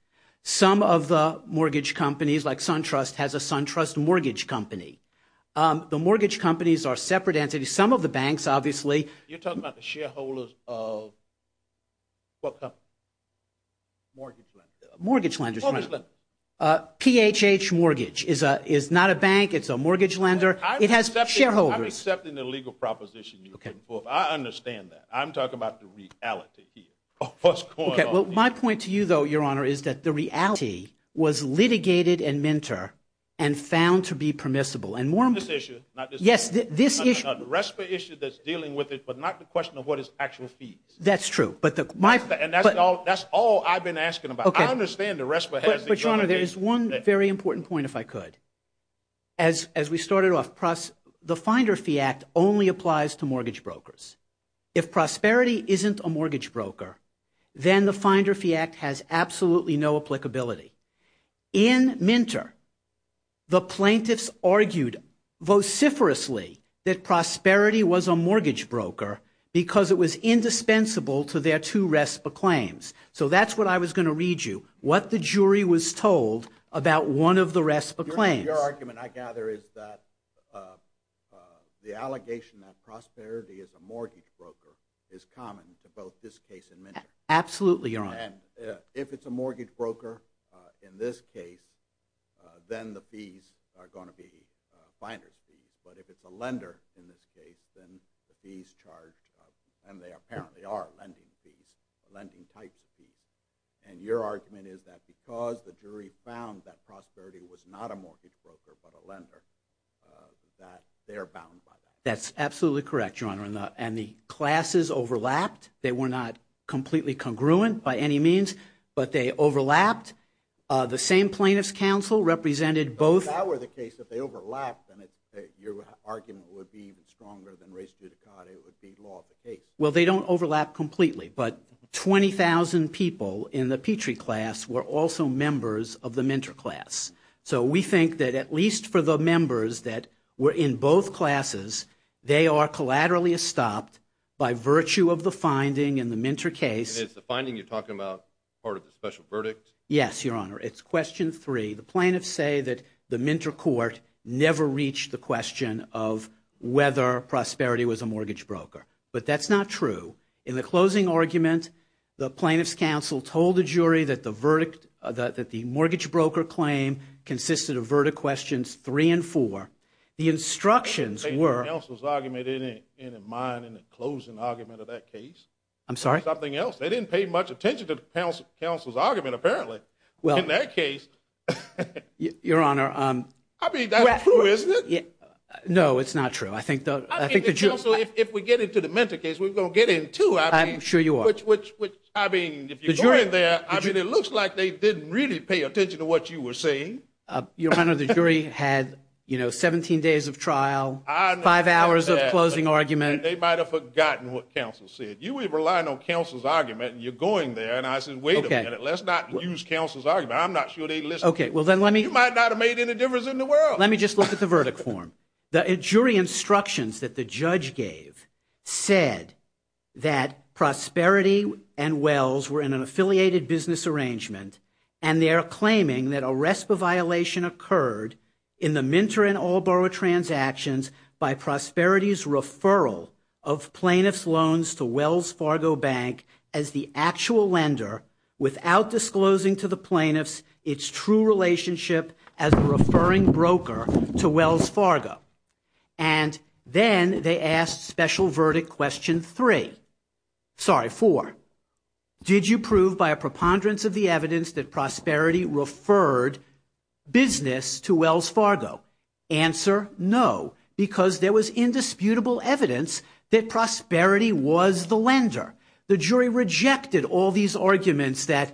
Some of the mortgage companies, like SunTrust, has a SunTrust mortgage company. The mortgage companies are separate entities. Some of the banks, obviously- You're talking about the shareholders of what company? Mortgage lenders. Mortgage lenders. PHH Mortgage is not a bank. It's a mortgage lender. It has shareholders. I'm accepting the legal proposition you're putting forth. I understand that. I'm talking about the reality here of what's going on here. Okay. Well, my point to you, though, Your Honor, is that the reality was litigated and mentor and found to be permissible. Not this issue. Yes, this issue. The RESPA issue that's dealing with it, but not the question of what is actual fees. That's true. And that's all I've been asking about. I understand the RESPA has- But, Your Honor, there is one very important point, if I could. As we started off, the Finder Fee Act only applies to mortgage brokers. If Prosperity isn't a mortgage broker, then the Finder Fee Act has absolutely no applicability. In Minter, the plaintiffs argued vociferously that Prosperity was a mortgage broker because it was indispensable to their two RESPA claims. So that's what I was going to read you, what the jury was told about one of the RESPA claims. Your argument, I gather, is that the allegation that Prosperity is a mortgage broker is common to both this case and Minter. Absolutely, Your Honor. And if it's a mortgage broker in this case, then the fees are going to be finder's fees. But if it's a lender in this case, then the fees charged, and they apparently are lending fees, lending types of fees. And your argument is that because the jury found that Prosperity was not a mortgage broker but a lender, that they're bound by that. That's absolutely correct, Your Honor. And the classes overlapped. They were not completely congruent by any means, but they overlapped. The same plaintiff's counsel represented both- If that were the case, if they overlapped, then your argument would be even stronger than race judicata. It would be law of the case. Well, they don't overlap completely, but 20,000 people in the Petrie class were also members of the Minter class. So we think that at least for the members that were in both classes, they are collaterally estopped by virtue of the finding in the Minter case. And is the finding you're talking about part of the special verdict? Yes, Your Honor. It's question three. The plaintiffs say that the Minter court never reached the question of whether Prosperity was a mortgage broker. But that's not true. In the closing argument, the plaintiff's counsel told the jury that the verdict, that the mortgage broker claim consisted of verdict questions three and four. The instructions were- They didn't take the counsel's argument in mind in the closing argument of that case. I'm sorry? Something else. They didn't pay much attention to the counsel's argument, apparently, in that case. Your Honor- I mean, that's true, isn't it? No, it's not true. Counsel, if we get into the Minter case, we're going to get into- I'm sure you are. I mean, if you go in there, it looks like they didn't really pay attention to what you were saying. Your Honor, the jury had 17 days of trial, five hours of closing argument. They might have forgotten what counsel said. You were relying on counsel's argument, and you're going there. And I said, wait a minute, let's not use counsel's argument. I'm not sure they listened. You might not have made any difference in the world. Let me just look at the verdict form. The jury instructions that the judge gave said that Prosperity and Wells were in an affiliated business arrangement, and they are claiming that a RESPA violation occurred in the Minter and Allboro transactions by Prosperity's referral of plaintiff's loans to Wells Fargo Bank as the actual lender, without disclosing to the plaintiffs its true relationship as a referring broker to Wells Fargo. And then they asked special verdict question three. Sorry, four. Did you prove by a preponderance of the evidence that Prosperity referred business to Wells Fargo? Answer, no, because there was indisputable evidence that Prosperity was the lender. The jury rejected all these arguments that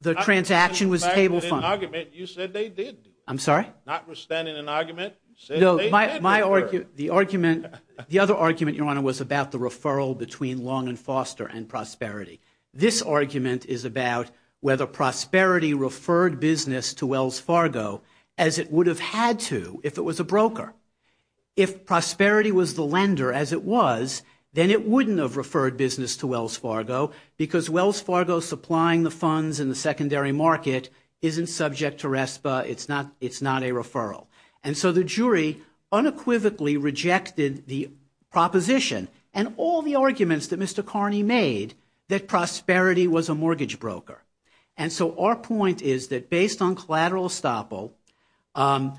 the transaction was table funded. You said they did. I'm sorry? Not withstanding an argument. No, the other argument, Your Honor, was about the referral between Long and Foster and Prosperity. This argument is about whether Prosperity referred business to Wells Fargo as it would have had to if it was a broker. If Prosperity was the lender as it was, then it wouldn't have referred business to Wells Fargo because Wells Fargo supplying the funds in the secondary market isn't subject to RESPA. It's not a referral. And so the jury unequivocally rejected the proposition and all the arguments that Mr. Carney made that Prosperity was a mortgage broker. And so our point is that based on collateral estoppel,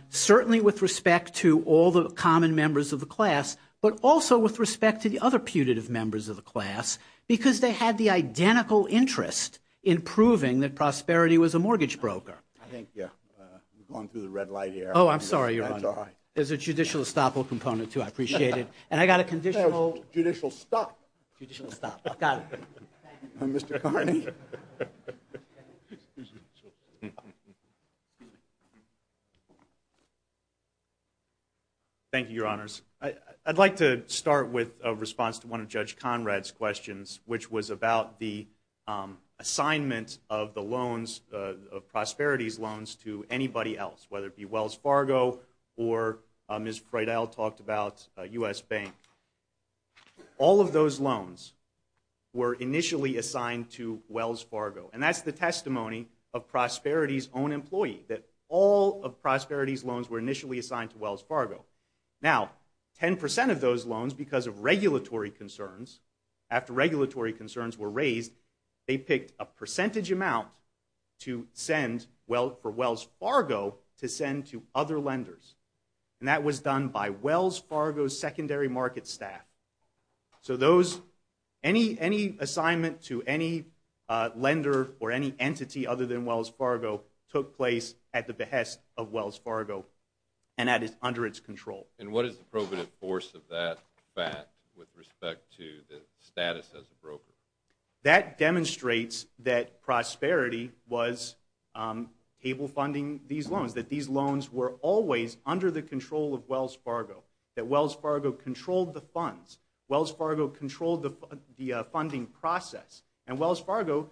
certainly with respect to all the common members of the class, but also with respect to the other putative members of the class, because they had the identical interest in proving that Prosperity was a mortgage broker. I think you're going through the red light here. Oh, I'm sorry, Your Honor. That's all right. There's a judicial estoppel component, too. I appreciate it. And I got a conditional. Judicial stop. Judicial stop. Got it. Mr. Carney. Thank you, Your Honors. I'd like to start with a response to one of Judge Conrad's questions, which was about the assignment of the loans, of Prosperity's loans, to anybody else, whether it be Wells Fargo or Ms. Freidel talked about U.S. Bank. All of those loans were initially assigned to Wells Fargo. And that's the testimony of Prosperity's own employee, that all of Prosperity's loans were initially assigned to Wells Fargo. Now, 10 percent of those loans, because of regulatory concerns, after regulatory concerns were raised, they picked a percentage amount for Wells Fargo to send to other lenders. And that was done by Wells Fargo's secondary market staff. So any assignment to any lender or any entity other than Wells Fargo took place at the behest of Wells Fargo and under its control. And what is the probative force of that fact with respect to the status as a broker? That demonstrates that Prosperity was cable funding these loans, that these loans were always under the control of Wells Fargo, that Wells Fargo controlled the funds. Wells Fargo controlled the funding process. And Wells Fargo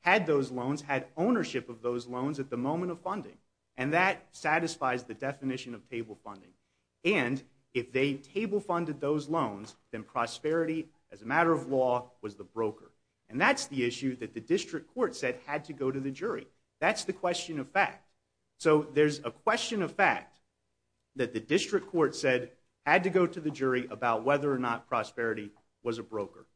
had those loans, had ownership of those loans at the moment of funding. And that satisfies the definition of cable funding. And if they cable funded those loans, then Prosperity, as a matter of law, was the broker. And that's the issue that the district court said had to go to the jury. That's the question of fact. So there's a question of fact that the district court said had to go to the jury about whether or not Prosperity was a broker.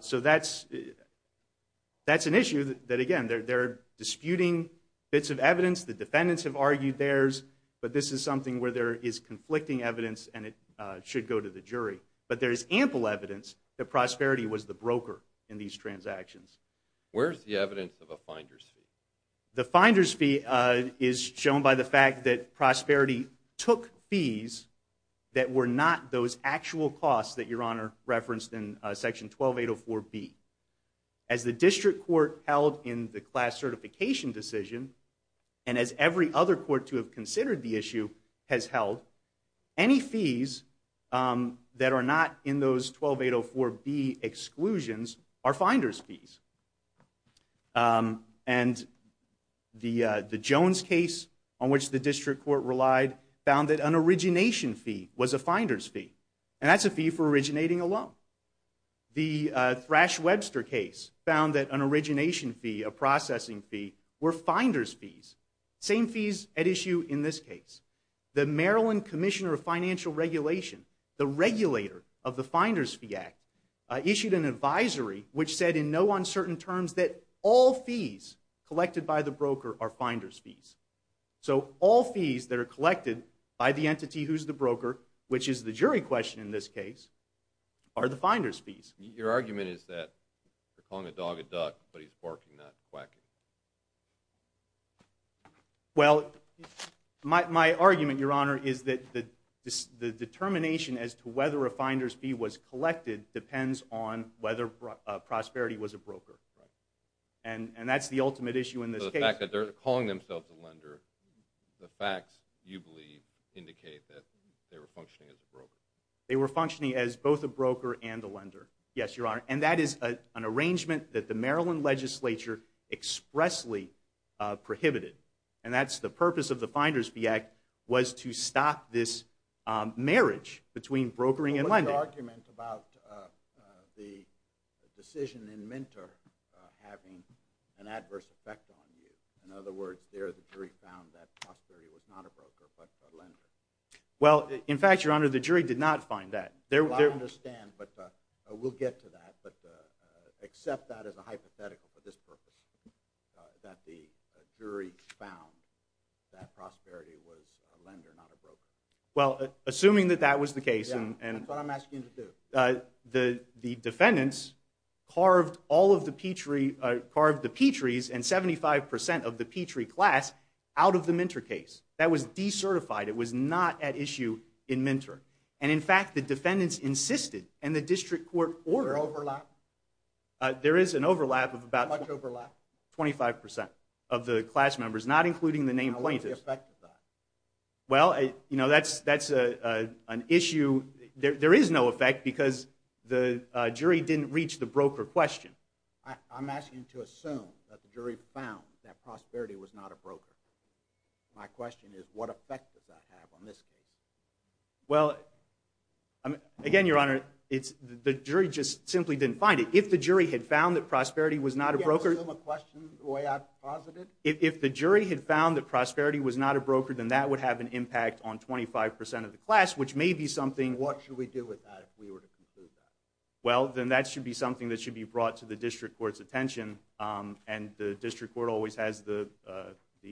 So that's an issue that, again, they're disputing bits of evidence. The defendants have argued theirs. But this is something where there is conflicting evidence, and it should go to the jury. But there is ample evidence that Prosperity was the broker in these transactions. Where is the evidence of a finder's fee? The finder's fee is shown by the fact that Prosperity took fees that were not those actual costs that Your Honor referenced in Section 12804B. As the district court held in the class certification decision, and as every other court to have considered the issue has held, any fees that are not in those 12804B exclusions are finder's fees. And the Jones case, on which the district court relied, found that an origination fee was a finder's fee. And that's a fee for originating a loan. The Thrash-Webster case found that an origination fee, a processing fee, were finder's fees. Same fees at issue in this case. The Maryland Commissioner of Financial Regulation, the regulator of the Finder's Fee Act, issued an advisory which said in no uncertain terms that all fees collected by the broker are finder's fees. So all fees that are collected by the entity who's the broker, which is the jury question in this case, are the finder's fees. Your argument is that they're calling a dog a duck, but he's barking, not quacking. Well, my argument, Your Honor, is that the determination as to whether a finder's fee was collected depends on whether Prosperity was a broker. And that's the ultimate issue in this case. So the fact that they're calling themselves a lender, the facts, you believe, indicate that they were functioning as a broker. They were functioning as both a broker and a lender, yes, Your Honor. And that is an arrangement that the Maryland legislature expressly prohibited. And that's the purpose of the Finder's Fee Act was to stop this marriage between brokering and lending. What was the argument about the decision in Minter having an adverse effect on you? In other words, there the jury found that Prosperity was not a broker but a lender. Well, in fact, Your Honor, the jury did not find that. I understand, but we'll get to that. But accept that as a hypothetical for this purpose, that the jury found that Prosperity was a lender, not a broker. Well, assuming that that was the case. That's what I'm asking you to do. The defendants carved all of the Petries and 75% of the Petrie class out of the Minter case. That was decertified. It was not at issue in Minter. And, in fact, the defendants insisted and the district court ordered. Was there overlap? There is an overlap of about 25% of the class members, not including the named plaintiffs. How much effect does that have? Well, you know, that's an issue. There is no effect because the jury didn't reach the broker question. I'm asking you to assume that the jury found that Prosperity was not a broker. My question is, what effect does that have on this case? Well, again, Your Honor, the jury just simply didn't find it. If the jury had found that Prosperity was not a broker. Can you assume a question the way I've posited? If the jury had found that Prosperity was not a broker, then that would have an impact on 25% of the class, which may be something. What should we do with that if we were to conclude that? Well, then that should be something that should be brought to the district court's attention. And the district court always has the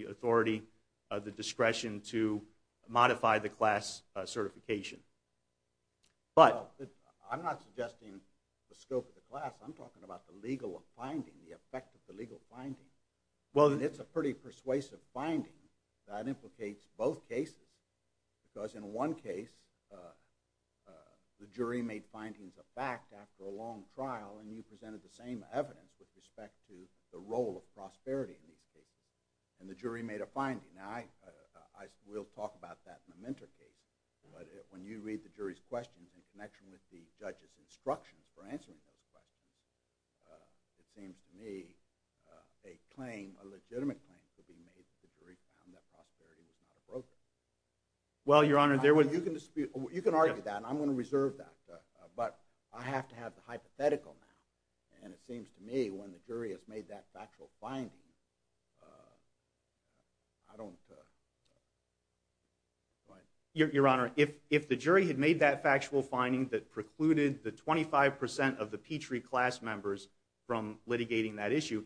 authority, the discretion to modify the class certification. But I'm not suggesting the scope of the class. I'm talking about the legal finding, the effect of the legal finding. Well, it's a pretty persuasive finding. That implicates both cases. Because in one case, the jury made findings of fact after a long trial. And you presented the same evidence with respect to the role of Prosperity in these cases. And the jury made a finding. Now, we'll talk about that in a mentor case. But when you read the jury's questions in connection with the judge's instructions for answering those questions, it seems to me a claim, a legitimate claim, could be made that the jury found that Prosperity was not a broker. Well, Your Honor, there was… You can argue that, and I'm going to reserve that. But I have to have the hypothetical now. And it seems to me when the jury has made that factual finding, I don't… Go ahead. Your Honor, if the jury had made that factual finding that precluded the 25% of the Petrie class members from litigating that issue,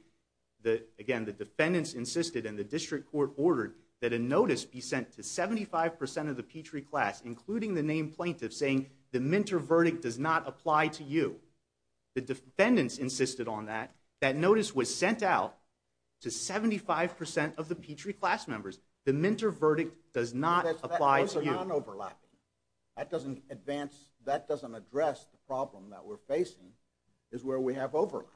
again, the defendants insisted and the district court ordered that a notice be sent to 75% of the Petrie class, including the named plaintiffs, saying the mentor verdict does not apply to you. The defendants insisted on that. That notice was sent out to 75% of the Petrie class members. The mentor verdict does not apply to you. Those are non-overlapping. That doesn't advance… That doesn't address the problem that we're facing is where we have overlap.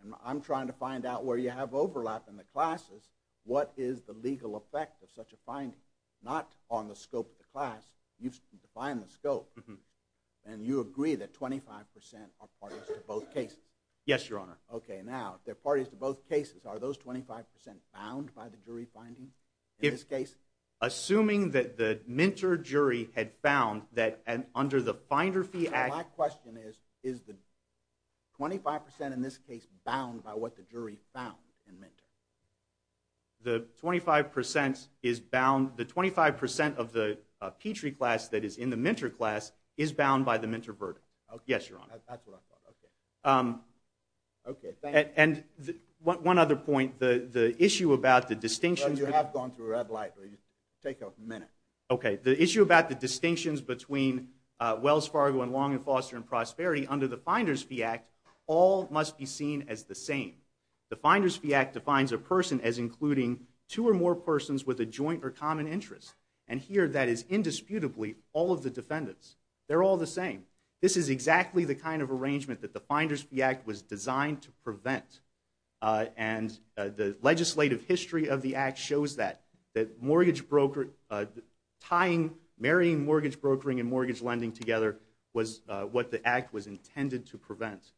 And I'm trying to find out where you have overlap in the classes. What is the legal effect of such a finding? Not on the scope of the class. You've defined the scope, and you agree that 25% are parties to both cases. Yes, Your Honor. Okay, now, if they're parties to both cases, are those 25% bound by the jury finding in this case? Assuming that the mentor jury had found that under the finder fee… My question is, is the 25% in this case bound by what the jury found in mentor? The 25% is bound… The 25% of the Petrie class that is in the mentor class is bound by the mentor verdict. Yes, Your Honor. That's what I thought, okay. Okay, thank you. And one other point, the issue about the distinction… Well, you have gone through red light, so you take a minute. Okay, the issue about the distinctions between Wells Fargo and Long and Foster and Prosperity under the Finders Fee Act all must be seen as the same. The Finders Fee Act defines a person as including two or more persons with a joint or common interest, and here that is indisputably all of the defendants. They're all the same. This is exactly the kind of arrangement that the Finders Fee Act was designed to prevent, and the legislative history of the Act shows that, that marrying mortgage brokering and mortgage lending together was what the Act was intended to prevent.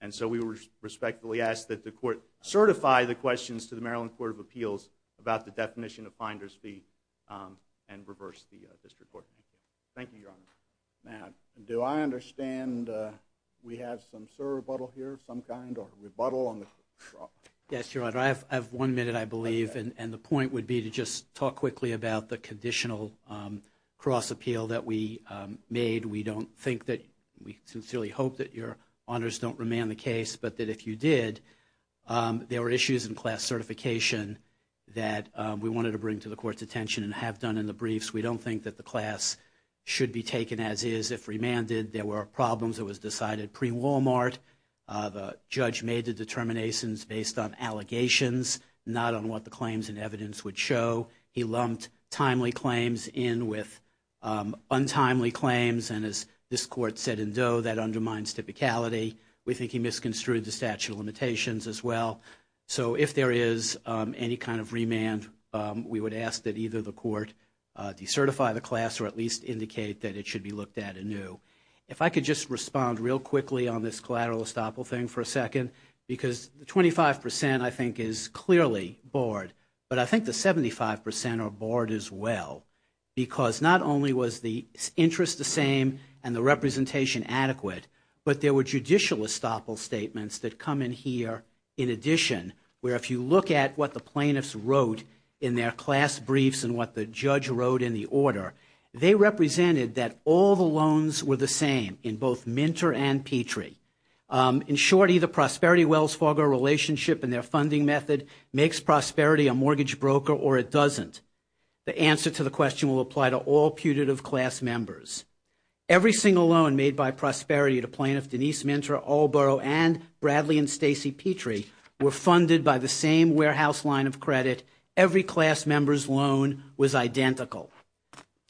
And so we respectfully ask that the Court certify the questions to the Maryland Court of Appeals about the definition of Finders Fee and reverse the district court. Thank you, Your Honor. Matt. Do I understand we have some sort of rebuttal here of some kind or rebuttal on the cross? Yes, Your Honor. I have one minute, I believe, and the point would be to just talk quickly about the conditional cross appeal that we made. We sincerely hope that Your Honors don't remand the case, but that if you did, there were issues in class certification that we wanted to bring to the Court's attention and have done in the briefs. We don't think that the class should be taken as is. If remanded, there were problems. It was decided pre-Walmart. The judge made the determinations based on allegations, not on what the claims and evidence would show. He lumped timely claims in with untimely claims, and as this Court said in Doe, that undermines typicality. We think he misconstrued the statute of limitations as well. So if there is any kind of remand, we would ask that either the Court decertify the class or at least indicate that it should be looked at anew. If I could just respond real quickly on this collateral estoppel thing for a second, because the 25% I think is clearly bored, but I think the 75% are bored as well, because not only was the interest the same and the representation adequate, but there were judicial estoppel statements that come in here in addition, where if you look at what the plaintiffs wrote in their class briefs and what the judge wrote in the order, they represented that all the loans were the same in both Minter and Petrie. In short, either Prosperity-Wells Fargo relationship and their funding method makes Prosperity a mortgage broker or it doesn't. The answer to the question will apply to all putative class members. Every single loan made by Prosperity to plaintiff Denise Minter, Allboro, and Bradley and Stacey Petrie were funded by the same warehouse line of credit. Every class member's loan was identical.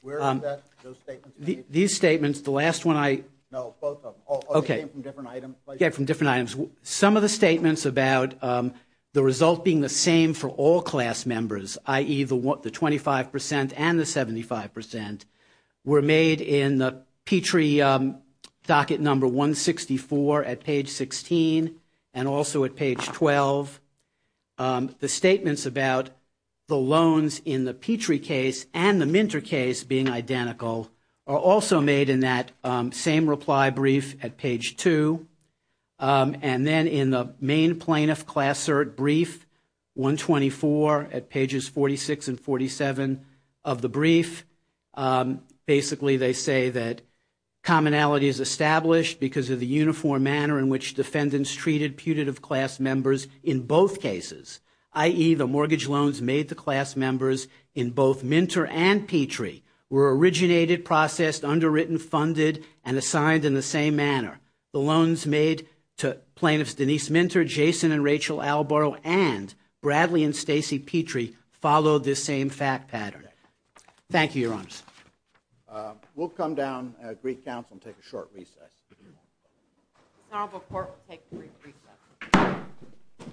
Where are those statements? These statements, the last one I – No, both of them. Okay. They came from different items? Yeah, from different items. Some of the statements about the result being the same for all class members, i.e., the 25% and the 75%, were made in the Petrie docket number 164 at page 16 and also at page 12. The statements about the loans in the Petrie case and the Minter case being identical are also made in that same reply brief at page 2. And then in the main plaintiff class cert brief, 124 at pages 46 and 47 of the brief, basically they say that commonality is established because of the uniform manner in which defendants treated putative class members in both cases, i.e., the mortgage loans made to class members in both Minter and Petrie were originated, processed, underwritten, funded, and assigned in the same manner. The loans made to plaintiffs Denise Minter, Jason and Rachel Allboro, and Bradley and Stacey Petrie followed this same fact pattern. Thank you, Your Honors. We'll come down at Greek Council and take a short recess. Senate Book Court will take a brief recess.